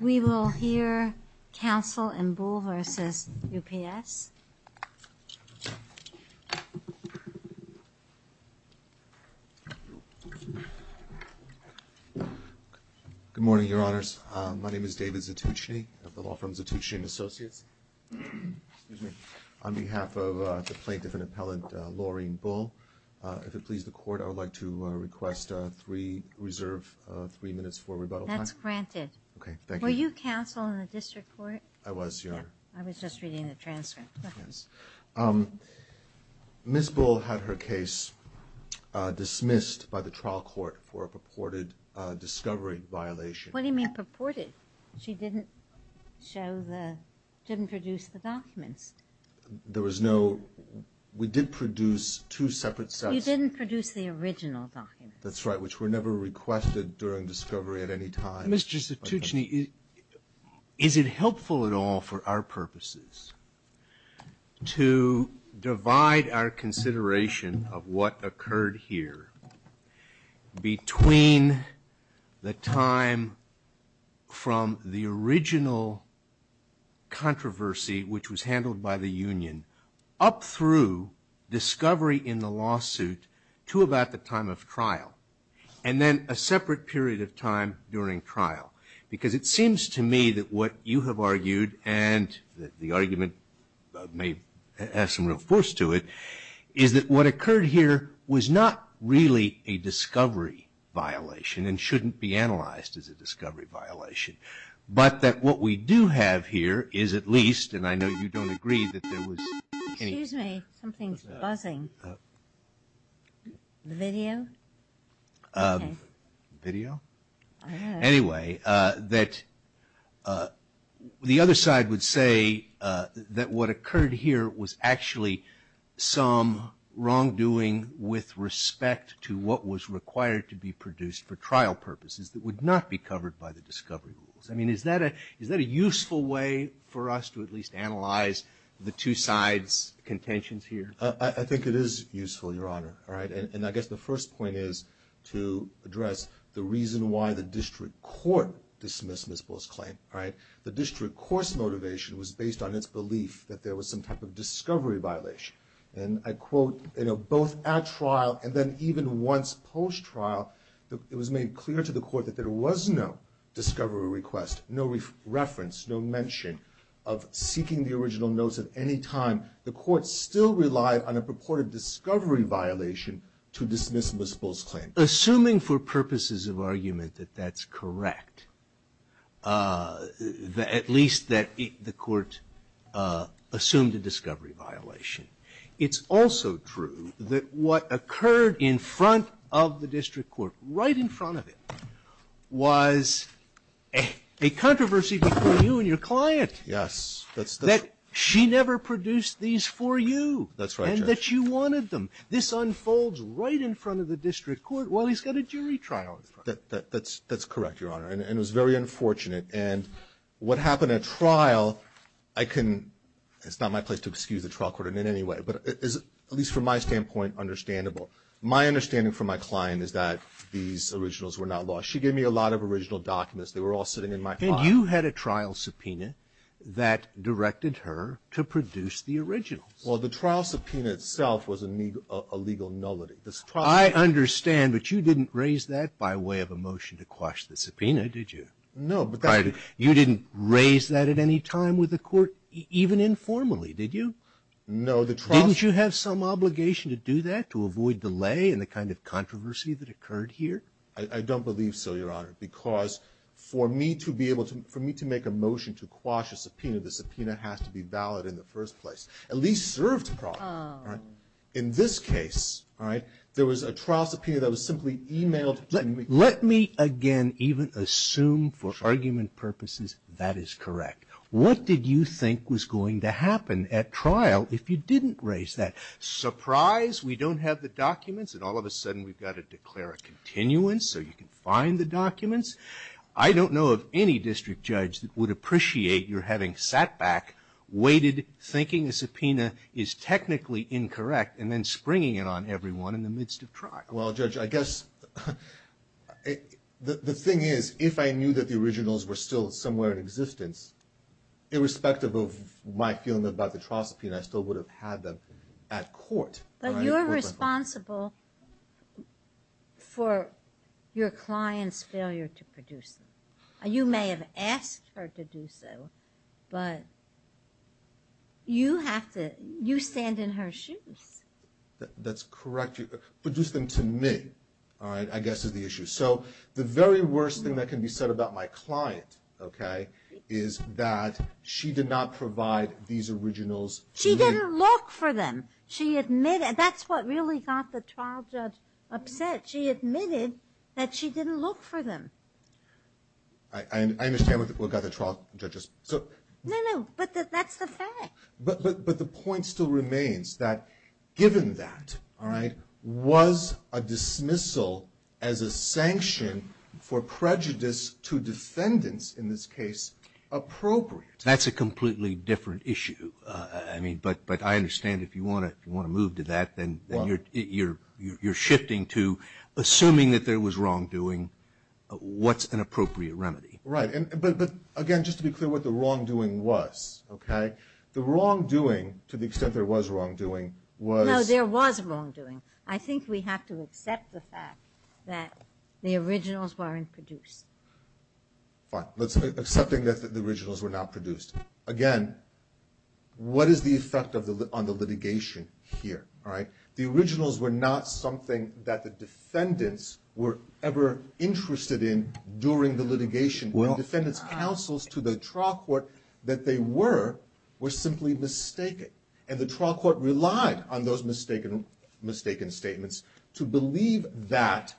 We will hear counsel in Bull v. UPSGood morning, Your Honors. My name is David Zatucchini of the Law Firm Zatucchini & Associates. On behalf of the plaintiff and appellant, Laureen Bull, if it please the Court, I would like to request three, reserve three minutes for rebuttal time. That's granted. Okay, thank you. Were you counsel in the district court? I was, Your Honor. I was just reading the transcript. Yes. Ms. Bull had her case dismissed by the trial court for a purported discovery violation. What do you mean purported? She didn't show the, didn't produce the documents. There was no, we did produce two separate sets. You didn't produce the original documents. That's right, which were never requested during discovery at any time. Mr. Zatucchini, is it helpful at all for our purposes to divide our consideration of what occurred here between the time from the original controversy, which was handled by the union, up through discovery in the lawsuit to about the time of trial, and then a separate period of time during trial? Because it seems to me that what you both have argued, and the argument may have some real force to it, is that what occurred here was not really a discovery violation and shouldn't be analyzed as a discovery violation, but that what we do have here is at least, and I know you don't agree that there was Excuse me, something's buzzing. Video? Video? Anyway, that the other side would say that what occurred here was actually some wrongdoing with respect to what was required to be produced for trial purposes that would not be covered by the discovery rules. I mean, is that a useful way for us to at least analyze the two sides' contentions here? I think it is useful, Your Honor, all right? And I guess the first point is to address the reason why the district court dismissed Ms. Bull's claim, all right? The district court's motivation was based on its belief that there was some type of discovery violation. And I quote, you know, both at trial and then even once post trial, it was made clear to the court that there was no discovery request, no reference, no mention of seeking the original notes at any time. The court still relied on a purported discovery violation to dismiss Ms. Bull's claim. Assuming for purposes of argument that that's correct, at least that the court assumed a discovery violation, it's also true that what occurred in front of the district court, right in front of it, was a controversy between you and your client. Yes. That she never produced these for you. That's right, Judge. And that you wanted them. This unfolds right in front of the district court while he's got a jury trial in front of him. That's correct, Your Honor. And it was very unfortunate. And what happened at trial, I can – it's not my place to excuse the trial court in any way, but at least from my standpoint, understandable. My understanding from my client is that these originals were not lost. She gave me a lot of original documents. They were all sitting in my car. And you had a trial subpoena that directed her to produce the originals. Well, the trial subpoena itself was a legal nullity. I understand, but you didn't raise that by way of a motion to quash the subpoena, did you? No, but that's – You didn't raise that at any time with the court, even informally, did you? No, the trial – Didn't you have some obligation to do that, to avoid delay and the kind of controversy that occurred here? I don't believe so, Your Honor, because for me to be able to – for me to make a motion to quash a subpoena, the subpoena has to be valid in the first place. At least served the problem, all right? In this case, all right, there was a trial subpoena that was simply emailed to me – Let me again even assume for argument purposes that is correct. What did you think was going to happen at trial if you didn't raise that? Surprise, we don't have the documents, and all of a sudden we've got to declare a continuance so you can find the documents. I don't know of any district judge that would appreciate your having sat back, waited, thinking a subpoena is technically incorrect, and then springing it on everyone in the midst of trial. Well, Judge, I guess the thing is, if I knew that the originals were still somewhere in existence, irrespective of my feeling about the trial subpoena, I still would have had them at court. But you're responsible for your client's failure to produce them. You may have asked her to do so, but you have to – you stand in her shoes. That's correct. Produce them to me, all right, I guess is the issue. So the very worst thing that can be said about my client, okay, is that she did not provide these originals to me. She didn't look for them. She admitted – that's what really got the trial judge upset. She admitted that she didn't look for them. I understand what got the trial judge – No, no, but that's the fact. But the point still remains that, given that, all right, was a dismissal as a sanction for prejudice to defendants, in this case, appropriate? That's a completely different issue. I mean, but I understand if you want to move to that, then you're shifting to assuming that there was wrongdoing. What's an appropriate remedy? Right, but again, just to be clear, what the wrongdoing was, okay? The wrongdoing, to the extent there was wrongdoing, was – No, there was wrongdoing. I think we have to accept the fact that the originals weren't produced. Fine. Let's – accepting that the originals were not produced. Again, what is the effect of the – on the litigation here, all right? The originals were not something that the defendants were ever interested in during the litigation. When defendants counseled to the trial court that they were, were simply mistaken. And the trial court relied on those mistaken statements to believe that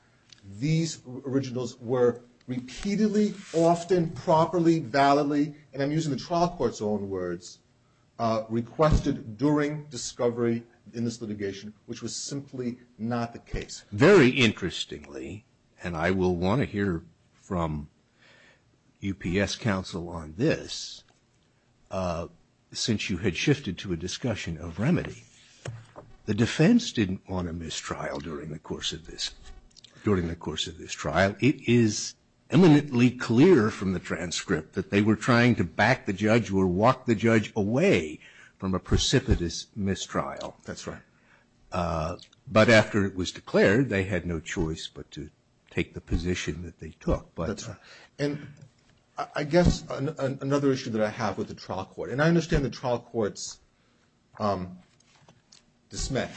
these originals were repeatedly, often, properly, validly – and I'm using the trial court's own words – requested during discovery in this litigation, which was simply not the case. Very interestingly, and I will want to hear from UPS counsel on this, since you had shifted to a discussion of remedy, the defense didn't want a mistrial during the course of this trial. It is eminently clear from the transcript that they were trying to back the judge or walk the judge away from a precipitous mistrial. That's right. But after it was declared, they had no choice but to take the position that they took. That's right. And I guess another issue that I have with the trial court – and I understand the trial court's dismay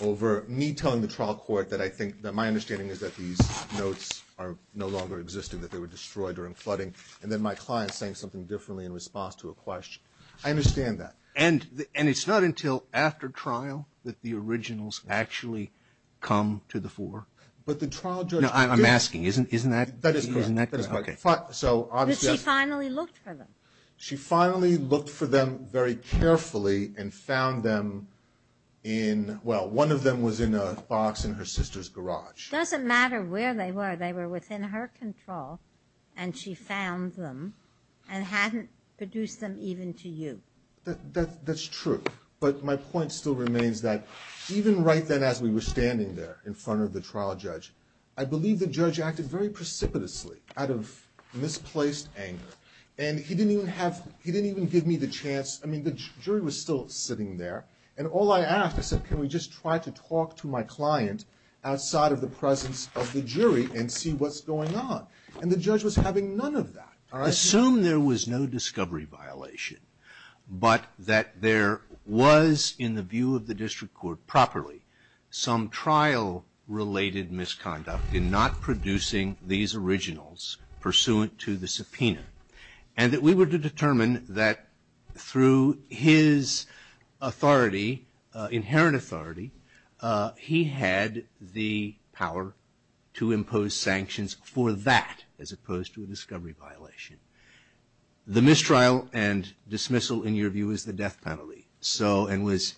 over me telling the trial court that I think – that my understanding is that these notes are no longer existing, that they were destroyed during flooding, and then my client saying something differently in response to a question. I understand that. And it's not until after trial that the originals actually come to the fore. But the trial judge – No, I'm asking. Isn't that correct? That is correct. But she finally looked for them. She finally looked for them very carefully and found them in – well, one of them was in a box in her sister's garage. It doesn't matter where they were. They were within her control, and she found them and hadn't produced them even to you. That's true. But my point still remains that even right then as we were standing there in front of the trial judge, I believe the judge acted very precipitously out of misplaced anger. And he didn't even have – he didn't even give me the chance – I mean, the jury was still sitting there. And all I asked, I said, can we just try to talk to my client outside of the presence of the jury and see what's going on? And the judge was having none of that. Assume there was no discovery violation, but that there was, in the view of the district court properly, some trial-related misconduct in not producing these originals pursuant to the subpoena, and that we were to determine that through his authority, inherent authority, he had the power to impose sanctions for that as opposed to a discovery violation. The mistrial and dismissal, in your view, is the death penalty, and was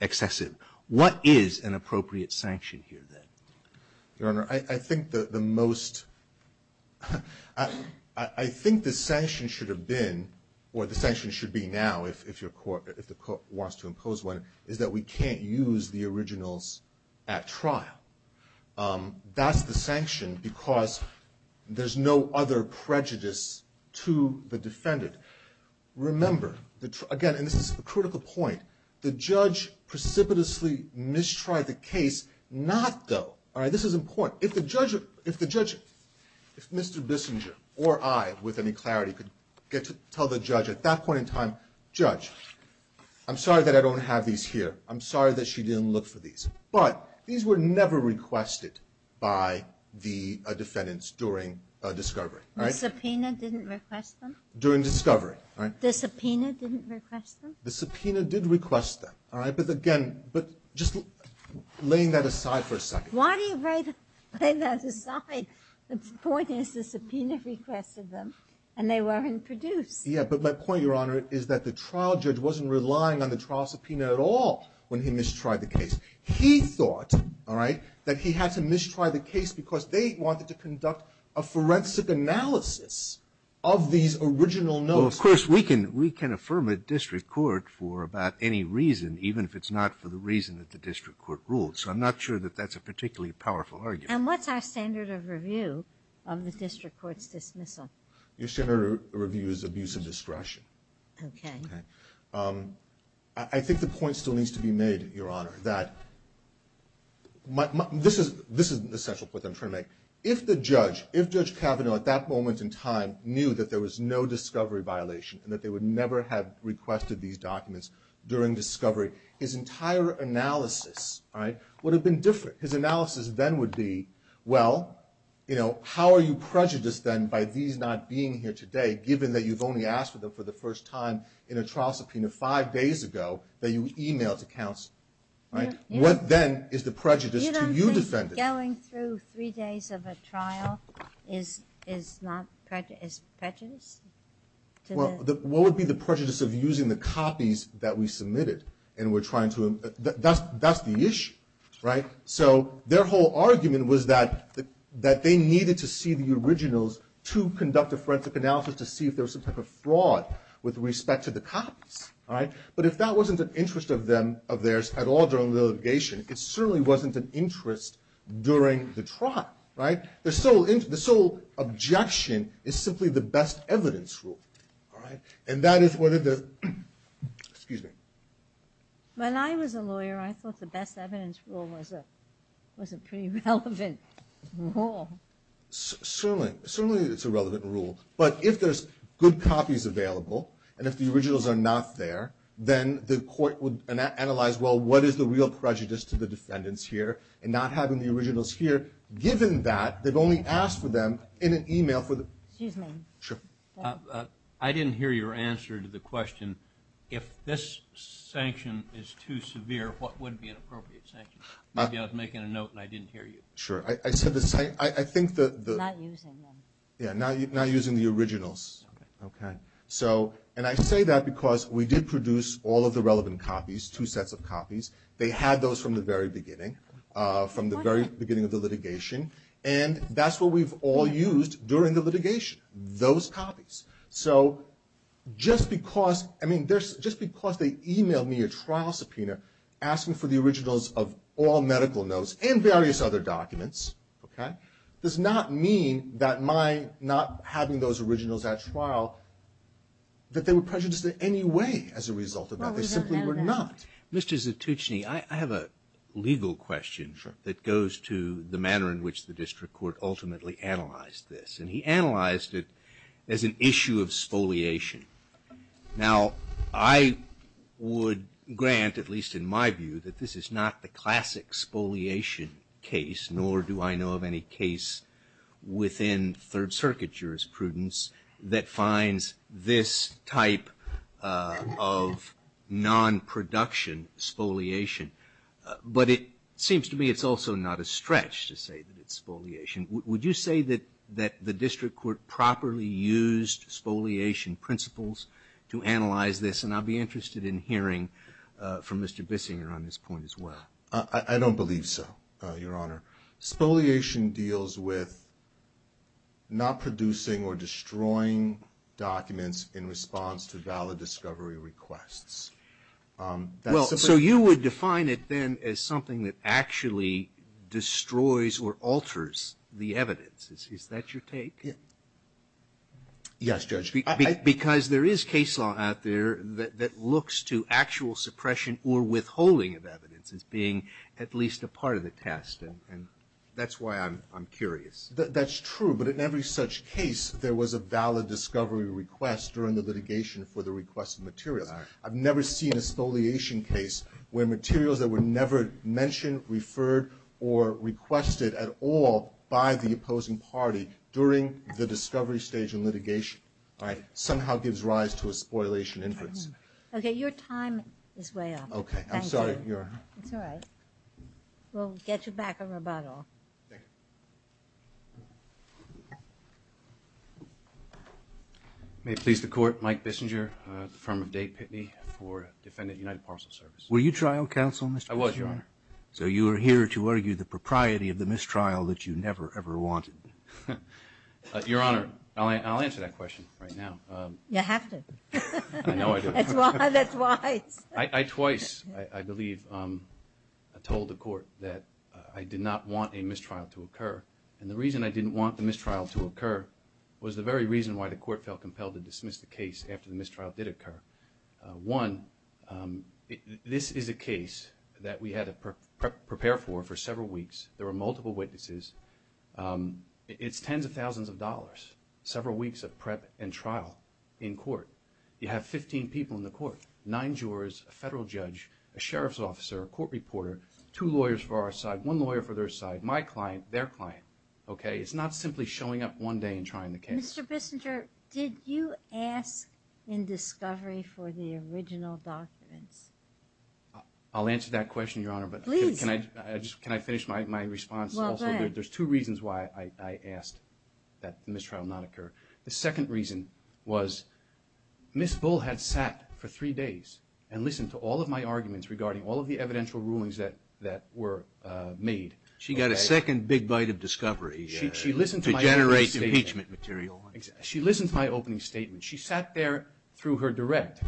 excessive. What is an appropriate sanction here, then? Your Honor, I think the most – I think the sanction should have been, or the sanction should be now if the court wants to impose one, is that we can't use the originals at trial. That's the sanction because there's no other prejudice to the defendant. Remember, again, and this is a critical point, the judge precipitously mistried the case. This is important. If the judge – if Mr. Bissinger or I with any clarity could get to tell the judge at that point in time, Judge, I'm sorry that I don't have these here. I'm sorry that she didn't look for these. But these were never requested by the defendants during discovery. The subpoena didn't request them? During discovery. The subpoena didn't request them? The subpoena did request them. All right, but again, but just laying that aside for a second. Why do you lay that aside? The point is the subpoena requested them, and they weren't produced. Yeah, but my point, Your Honor, is that the trial judge wasn't relying on the trial subpoena at all when he mistried the case. He thought, all right, that he had to mistry the case because they wanted to conduct a forensic analysis of these original notes. Well, of course, we can affirm a district court for about any reason, even if it's not for the reason that the district court ruled. So I'm not sure that that's a particularly powerful argument. And what's our standard of review of the district court's dismissal? Your standard of review is abuse of discretion. Okay. Okay. I think the point still needs to be made, Your Honor, that – this is an essential point that I'm trying to make. If the judge, if Judge Kavanaugh at that moment in time knew that there was no discovery violation and that they would never have requested these documents during discovery, his entire analysis, all right, would have been different. His analysis then would be, well, you know, how are you prejudiced then by these not being here today, given that you've only asked for them for the first time in a trial subpoena five days ago that you emailed to counsel? Right? What then is the prejudice to you defending? Going through three days of a trial is not – is prejudice? Well, what would be the prejudice of using the copies that we submitted and we're trying to – that's the issue, right? So their whole argument was that they needed to see the originals to conduct a forensic analysis to see if there was some type of fraud with respect to the copies, all right? But if that wasn't an interest of theirs at all during the litigation, it certainly wasn't an interest during the trial, right? The sole objection is simply the best evidence rule, all right? And that is whether the – excuse me. When I was a lawyer, I thought the best evidence rule was a pretty relevant rule. Certainly it's a relevant rule, but if there's good copies available and if the originals are not there, then the court would analyze, well, what is the real prejudice to the defendants here and not having the originals here, given that they've only asked for them in an email for the – Excuse me. Sure. I didn't hear your answer to the question, if this sanction is too severe, what would be an appropriate sanction? Maybe I was making a note and I didn't hear you. Sure. I said the same – I think the – Not using them. Yeah, not using the originals. Okay. Okay. So – and I say that because we did produce all of the relevant copies, two sets of copies. They had those from the very beginning, from the very beginning of the litigation, and that's what we've all used during the litigation, those copies. So just because – I mean, just because they emailed me a trial subpoena, asking for the originals of all medical notes and various other documents, okay, does not mean that my not having those originals at trial, that they were prejudiced in any way as a result of that. Well, we don't know that. They simply were not. Mr. Zatucchini, I have a legal question that goes to the manner in which the district court ultimately analyzed this, and he analyzed it as an issue of spoliation. Now, I would grant, at least in my view, that this is not the classic spoliation case, nor do I know of any case within Third Circuit jurisprudence that finds this type of non-production spoliation. But it seems to me it's also not a stretch to say that it's spoliation. Would you say that the district court properly used spoliation principles to analyze this? And I'd be interested in hearing from Mr. Bissinger on this point as well. I don't believe so, Your Honor. Spoliation deals with not producing or destroying documents in response to valid discovery requests. Well, so you would define it then as something that actually destroys or alters the evidence. Is that your take? Yes, Judge. Because there is case law out there that looks to actual suppression or withholding of evidence as being at least a part of the test. And that's why I'm curious. That's true. But in every such case, there was a valid discovery request during the litigation for the requested materials. I've never seen a spoliation case where materials that were never mentioned, referred, or requested at all by the opposing party during the discovery stage in litigation somehow gives rise to a spoliation inference. Okay. Your time is way up. Okay. I'm sorry, Your Honor. It's all right. We'll get you back on rebuttal. Thank you. May it please the Court. Mike Bissinger, the firm of Day Pitney for Defendant United Parcel Service. Were you trial counsel, Mr. Bissinger? I was, Your Honor. So you are here to argue the propriety of the mistrial that you never, ever wanted. Your Honor, I'll answer that question right now. You have to. I know I do. That's why. I twice, I believe, told the Court that I did not want a mistrial to occur. And the reason I didn't want the mistrial to occur was the very reason why the Court felt compelled to dismiss the case after the mistrial did occur. One, this is a case that we had to prepare for for several weeks. There were multiple witnesses. It's tens of thousands of dollars, several weeks of prep and trial in court. You have 15 people in the court, nine jurors, a federal judge, a sheriff's officer, a court reporter, two lawyers for our side, one lawyer for their side, my client, their client. It's not simply showing up one day and trying the case. Mr. Bissinger, did you ask in discovery for the original documents? I'll answer that question, Your Honor. Can I finish my response? Well, go ahead. There's two reasons why I asked that the mistrial not occur. The second reason was Ms. Bull had sat for three days and listened to all of my arguments regarding all of the evidential rulings that were made. She got a second big bite of discovery to generate impeachment material. She listened to my opening statement. She sat there through her direct.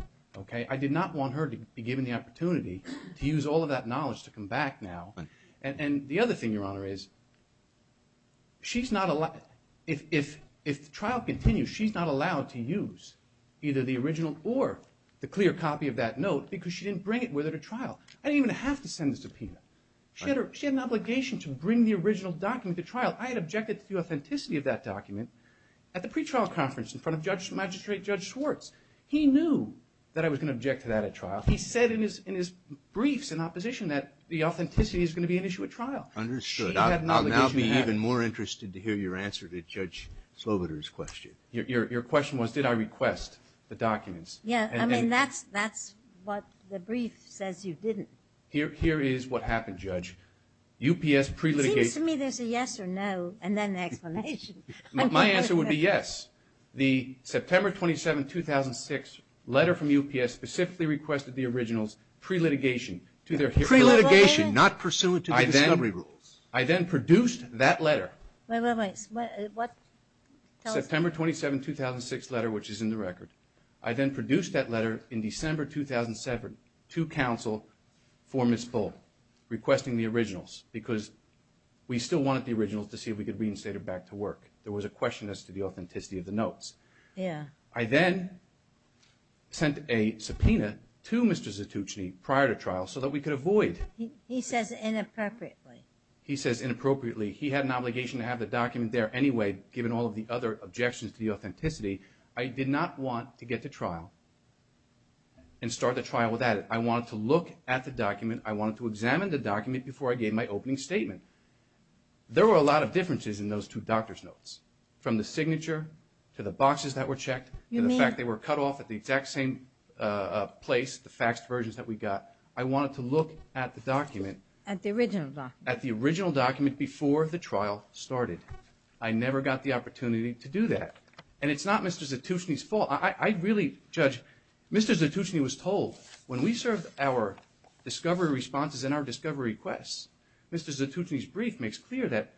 I did not want her to be given the opportunity to use all of that knowledge to come back now. And the other thing, Your Honor, is if the trial continues, she's not allowed to use either the original or the clear copy of that note because she didn't bring it with her to trial. I didn't even have to send the subpoena. She had an obligation to bring the original document to trial. I had objected to the authenticity of that document at the pre-trial conference in front of Magistrate Judge Schwartz. He knew that I was going to object to that at trial. He said in his briefs in opposition that the authenticity is going to be an issue at trial. Understood. I'll now be even more interested to hear your answer to Judge Slobodur's question. Your question was did I request the documents? Yes. I mean, that's what the brief says you didn't. Here is what happened, Judge. UPS pre-litigation. It seems to me there's a yes or no and then the explanation. My answer would be yes. The September 27, 2006 letter from UPS specifically requested the originals pre-litigation. Pre-litigation, not pursuant to the discovery rules. I then produced that letter. Wait, wait, wait. What? September 27, 2006 letter, which is in the record. I then produced that letter in December 2007 to counsel for Ms. Fuld requesting the originals because we still wanted the originals to see if we could reinstate it back to work. There was a question as to the authenticity of the notes. Yeah. I then sent a subpoena to Mr. Zetouchny prior to trial so that we could avoid. He says inappropriately. He says inappropriately. He had an obligation to have the document there anyway given all of the other objections to the authenticity. I did not want to get to trial and start the trial without it. I wanted to look at the document. I wanted to examine the document before I gave my opening statement. There were a lot of differences in those two doctor's notes from the signature to the boxes that were checked and the fact they were cut off at the exact same place, the faxed versions that we got. I wanted to look at the document. At the original document. At the original document before the trial started. I never got the opportunity to do that. And it's not Mr. Zetouchny's fault. I really, Judge, Mr. Zetouchny was told when we served our discovery responses and our discovery requests, Mr. Zetouchny's brief makes clear that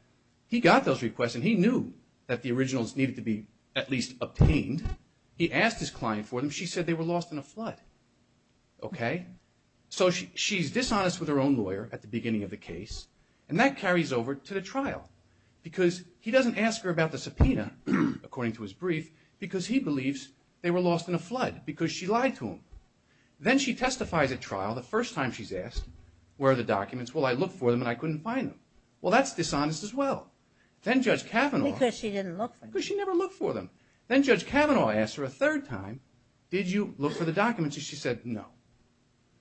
he got those requests and he knew that the originals needed to be at least obtained. He asked his client for them. She said they were lost in a flood. Okay? So she's dishonest with her own lawyer at the beginning of the case and that carries over to the trial because he doesn't ask her about the subpoena, according to his brief, because he believes they were lost in a flood because she lied to him. Then she testifies at trial the first time she's asked, where are the documents? Well, I looked for them and I couldn't find them. Well, that's dishonest as well. Then Judge Kavanaugh. Because she didn't look for them. Because she never looked for them. Then Judge Kavanaugh asked her a third time, did you look for the documents? And she said no.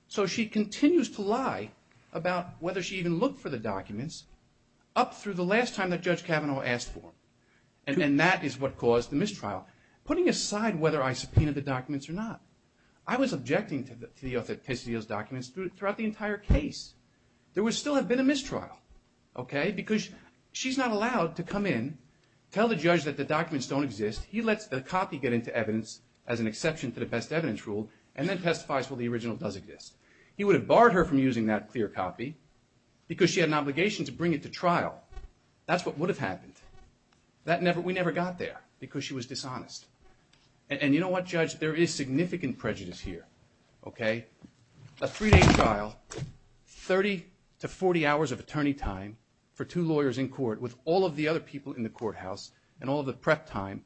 So she continues to lie about whether she even looked for the documents up through the last time that Judge Kavanaugh asked for them. And that is what caused the mistrial. Putting aside whether I subpoenaed the documents or not, I was objecting to the authenticity of those documents throughout the entire case. There would still have been a mistrial. Okay? Because she's not allowed to come in, tell the judge that the documents don't exist. He lets the copy get into evidence as an exception to the best evidence rule and then testifies, well, the original does exist. He would have barred her from using that clear copy because she had an obligation to bring it to trial. That's what would have happened. We never got there because she was dishonest. And you know what, Judge? There is significant prejudice here. Okay? A three-day trial, 30 to 40 hours of attorney time for two lawyers in court with all of the other people in the courthouse and all of the prep time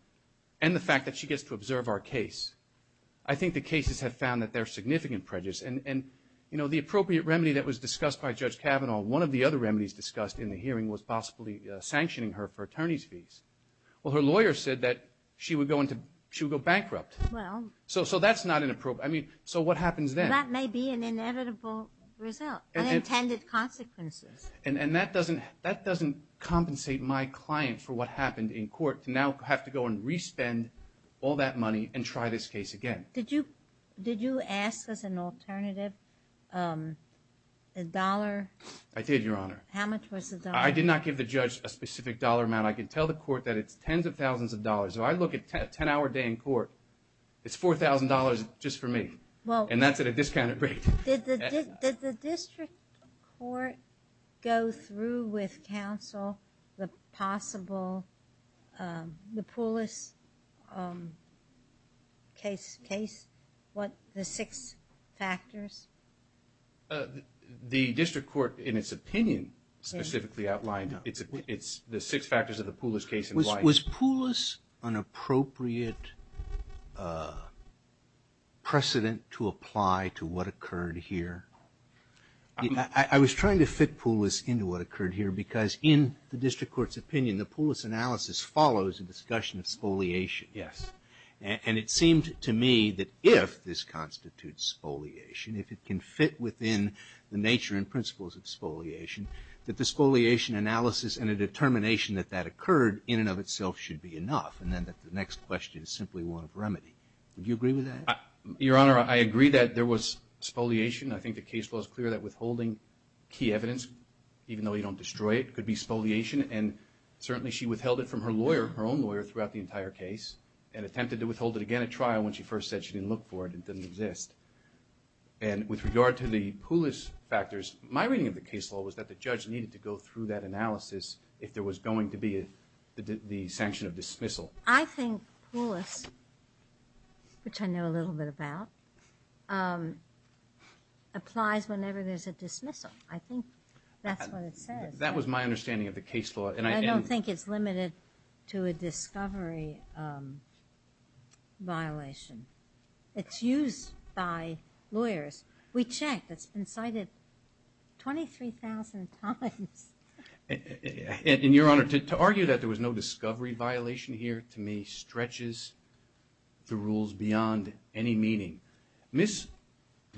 and the fact that she gets to observe our case. I think the cases have found that there's significant prejudice. And, you know, the appropriate remedy that was discussed by Judge Kavanaugh, one of the other remedies discussed in the hearing was possibly sanctioning her for attorney's fees. Well, her lawyer said that she would go bankrupt. Well. So that's not an appropriate. I mean, so what happens then? That may be an inevitable result, unintended consequences. And that doesn't compensate my client for what happened in court to now have to go and re-spend all that money and try this case again. Did you ask as an alternative a dollar? I did, Your Honor. How much was the dollar? I did not give the judge a specific dollar amount. I can tell the court that it's tens of thousands of dollars. So I look at a 10-hour day in court, it's $4,000 just for me. And that's at a discounted rate. Did the district court go through with counsel the possible, the Poulos case, what, the six factors? The district court, in its opinion, specifically outlined the six factors of the Poulos case and why. Was Poulos an appropriate precedent to apply to what occurred here? I was trying to fit Poulos into what occurred here because in the district court's opinion, the Poulos analysis follows a discussion of spoliation. Yes. And it seemed to me that if this constitutes spoliation, if it can fit within the nature and principles of spoliation, that the spoliation analysis and a determination that that occurred in and of itself should be enough, and then that the next question is simply one of remedy. Would you agree with that? Your Honor, I agree that there was spoliation. I think the case law is clear that withholding key evidence, even though you don't destroy it, could be spoliation. And certainly she withheld it from her lawyer, her own lawyer, throughout the entire case and attempted to withhold it again at trial when she first said she didn't look for it, it doesn't exist. And with regard to the Poulos factors, my reading of the case law was that the judge needed to go through that analysis if there was going to be the sanction of dismissal. I think Poulos, which I know a little bit about, applies whenever there's a dismissal. I think that's what it says. That was my understanding of the case law. I don't think it's limited to a discovery violation. It's used by lawyers. We checked. It's been cited 23,000 times. And, Your Honor, to argue that there was no discovery violation here, to me, stretches the rules beyond any meaning. Ms.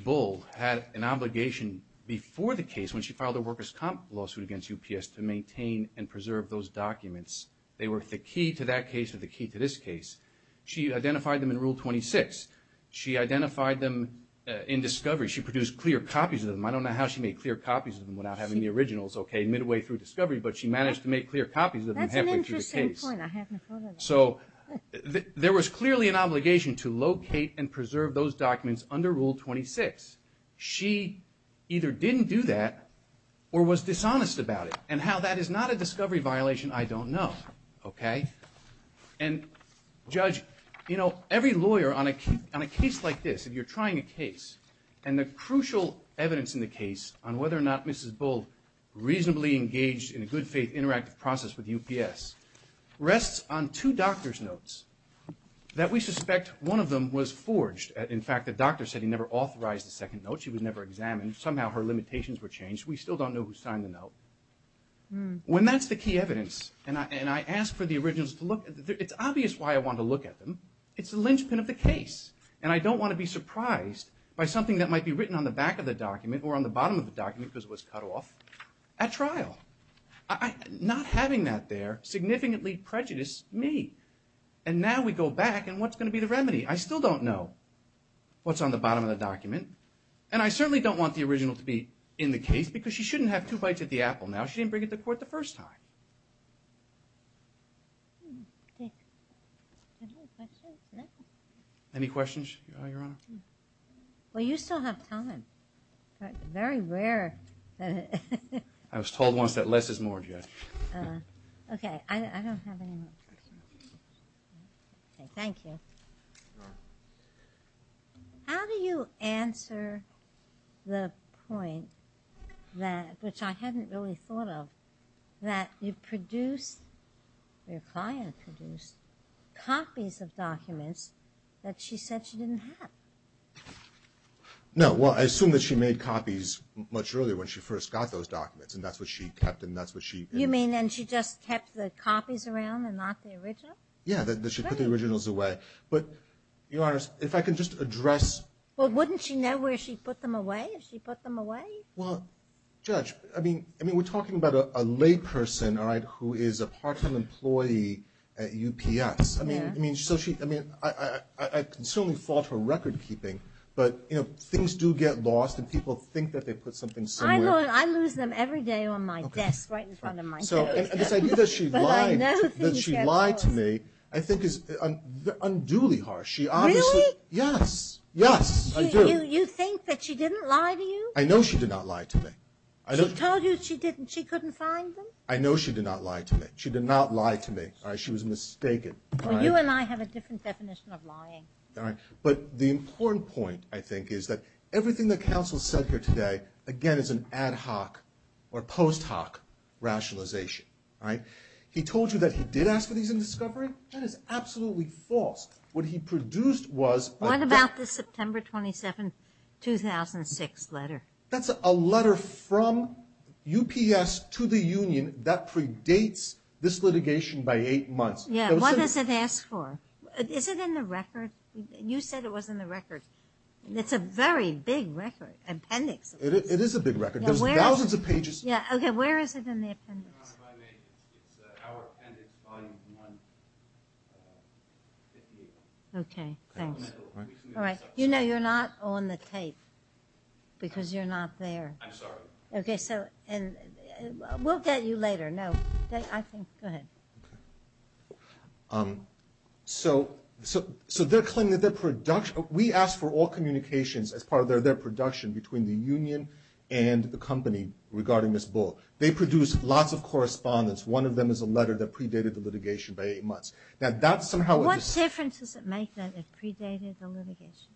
Bull had an obligation before the case, when she filed a workers' comp lawsuit against UPS, to maintain and preserve those documents. They were the key to that case or the key to this case. She identified them in Rule 26. She identified them in discovery. She produced clear copies of them. I don't know how she made clear copies of them without having the originals midway through discovery, but she managed to make clear copies of them halfway through the case. That's an interesting point. I haven't heard of that. So there was clearly an obligation to locate and preserve those documents under Rule 26. She either didn't do that or was dishonest about it. And how that is not a discovery violation, I don't know. Okay? And, Judge, you know, every lawyer on a case like this, if you're trying a case, and the crucial evidence in the case on whether or not Mrs. Bull reasonably engaged in a good-faith interactive process with UPS, rests on two doctor's notes that we suspect one of them was forged. In fact, the doctor said he never authorized the second note. She was never examined. Somehow her limitations were changed. We still don't know who signed the note. When that's the key evidence, and I ask for the originals to look, it's obvious why I want to look at them. It's the linchpin of the case. And I don't want to be surprised by something that might be written on the back of the document or on the bottom of the document because it was cut off at trial. Not having that there significantly prejudiced me. And now we go back, and what's going to be the remedy? I still don't know what's on the bottom of the document. And I certainly don't want the original to be in the case because she shouldn't have two bites at the apple now. She didn't bring it to court the first time. Any questions, Your Honor? Well, you still have time. Very rare. I was told once that less is more, Judge. Okay, I don't have any more questions. Okay, thank you. How do you answer the point, which I hadn't really thought of, that you produced, your client produced, copies of documents that she said she didn't have? No, well, I assume that she made copies much earlier when she first got those documents, and that's what she kept. You mean, and she just kept the copies around and not the originals? Yeah, that she put the originals away. But, Your Honor, if I can just address... Well, wouldn't she know where she put them away, if she put them away? Well, Judge, I mean, we're talking about a layperson, all right, who is a part-time employee at UPS. I mean, so she, I mean, I can certainly fault her record-keeping, but, you know, things do get lost, and people think that they put something somewhere. I lose them every day on my desk, right in front of my desk. So this idea that she lied to me, I think is unduly harsh. Really? Yes, yes, I do. You think that she didn't lie to you? I know she did not lie to me. She told you she couldn't find them? I know she did not lie to me. She did not lie to me. All right, she was mistaken. Well, you and I have a different definition of lying. All right, but the important point, I think, is that everything that counsel said here today, again, is an ad hoc or post hoc rationalization, all right? He told you that he did ask for these in discovery? That is absolutely false. What he produced was a- What about the September 27, 2006 letter? That's a letter from UPS to the union that predates this litigation by eight months. Yeah, what does it ask for? Is it in the record? You said it was in the record. It's a very big record, appendix. It is a big record. There's thousands of pages. Yeah, okay, where is it in the appendix? Okay, thanks. All right, you know you're not on the tape because you're not there. I'm sorry. Okay, so we'll get you later. No, go ahead. Okay, so they're claiming that their production- We asked for all communications as part of their production between the union and the company regarding this bull. They produced lots of correspondence. One of them is a letter that predated the litigation by eight months. Now, that's somehow- What difference does it make that it predated the litigation?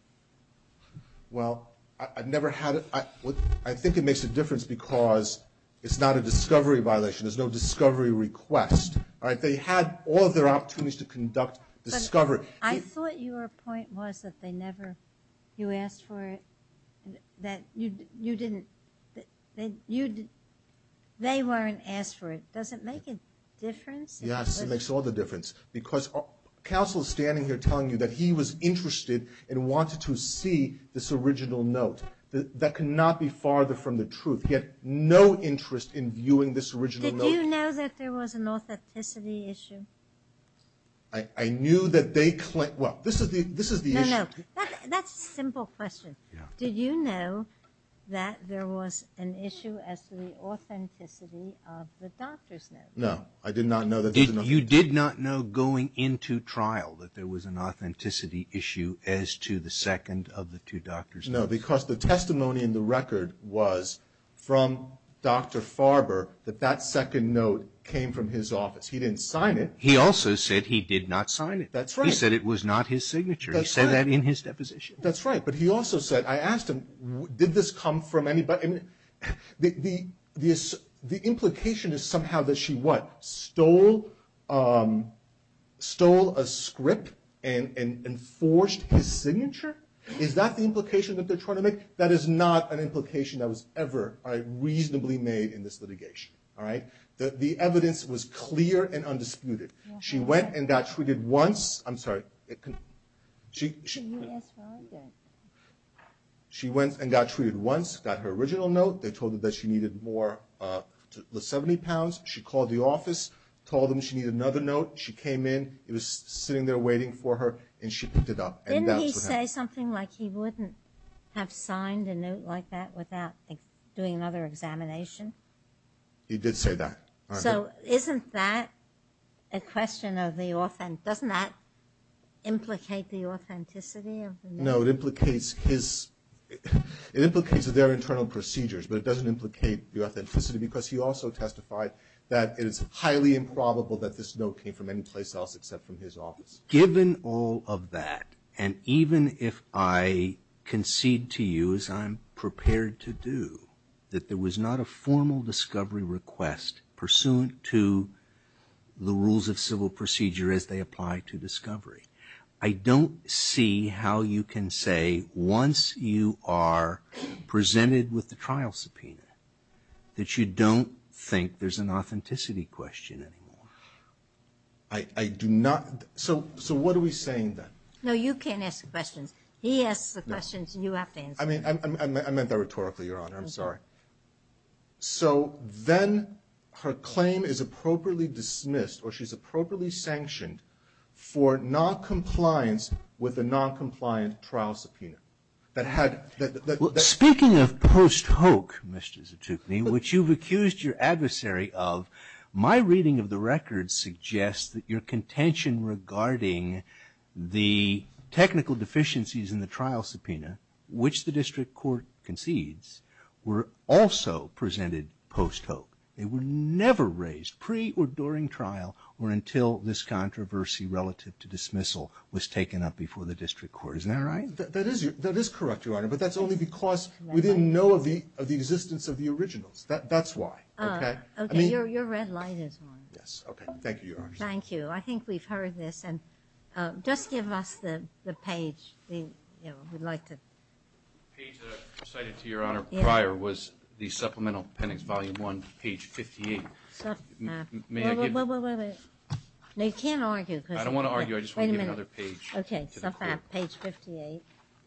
Well, I've never had it- I think it makes a difference because it's not a discovery violation. There's no discovery request. All right, they had all of their opportunities to conduct discovery. But I thought your point was that they never- You asked for it, that you didn't- They weren't asked for it. Does it make a difference? Yes, it makes all the difference because counsel is standing here telling you that he was interested and wanted to see this original note. That cannot be farther from the truth. He had no interest in viewing this original note. Did you know that there was an authenticity issue? I knew that they- Well, this is the issue. No, no, that's a simple question. Did you know that there was an issue as to the authenticity of the doctor's note? No, I did not know that there was an- You did not know going into trial that there was an authenticity issue as to the second of the two doctor's notes? No, because the testimony in the record was from Dr. Farber that that second note came from his office. He didn't sign it. He also said he did not sign it. That's right. He said it was not his signature. That's right. He said that in his deposition. That's right, but he also said- I asked him, did this come from anybody? The implication is somehow that she, what, stole a script and forged his signature? Is that the implication that they're trying to make? That is not an implication that was ever reasonably made in this litigation. All right? The evidence was clear and undisputed. She went and got treated once. I'm sorry. She went and got treated once, got her original note. They told her that she needed more, the 70 pounds. She called the office, told them she needed another note. She came in. It was sitting there waiting for her, and she picked it up, and that's what happened. Did he say something like he wouldn't have signed a note like that without doing another examination? He did say that. So isn't that a question of the- doesn't that implicate the authenticity of the note? No, it implicates his- it implicates their internal procedures, but it doesn't implicate the authenticity because he also testified that it is highly improbable that this note came from any place else except from his office. Given all of that, and even if I concede to you, as I'm prepared to do, that there was not a formal discovery request pursuant to the rules of civil procedure as they apply to discovery, I don't see how you can say once you are presented with the trial subpoena that you don't think there's an authenticity question anymore. I do not- so what are we saying then? No, you can't ask questions. He asks the questions and you have to answer them. I mean, I meant that rhetorically, Your Honor. I'm sorry. Okay. So then her claim is appropriately dismissed or she's appropriately sanctioned for noncompliance with a noncompliant trial subpoena that had- Well, speaking of post-hoc, Mr. Zatucni, which you've accused your adversary of, my reading of the records suggests that your contention regarding the technical deficiencies in the trial subpoena, which the district court concedes, were also presented post-hoc. They were never raised pre or during trial or until this controversy relative to dismissal was taken up before the district court. Isn't that right? That is correct, Your Honor, but that's only because we didn't know of the existence of the originals. That's why. Okay. I mean- Your red light is on. Okay. Thank you, Your Honor. Thank you. I think we've heard this. Just give us the page we'd like to- The page that I cited to Your Honor prior was the Supplemental Appendix, Volume 1, page 58. May I give- Wait, wait, wait, wait. No, you can't argue because- I don't want to argue. I just want to give another page to the court. Okay. Submap, page 58.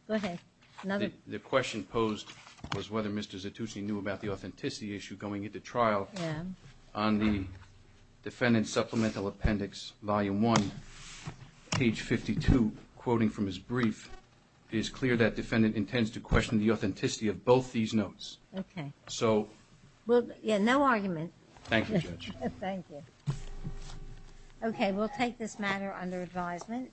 Go ahead. Another- The question posed was whether Mr. Zatucni knew about the authenticity issue going into trial on the defendant's Supplemental Appendix, Volume 1, page 52. Quoting from his brief, it is clear that defendant intends to question the authenticity of both these notes. Okay. So- Yeah, no argument. Thank you, Judge. Thank you. Okay. We'll take this matter under advisement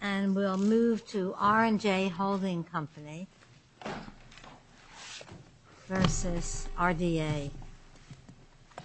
and we'll move to R&J Holding Company versus RDA.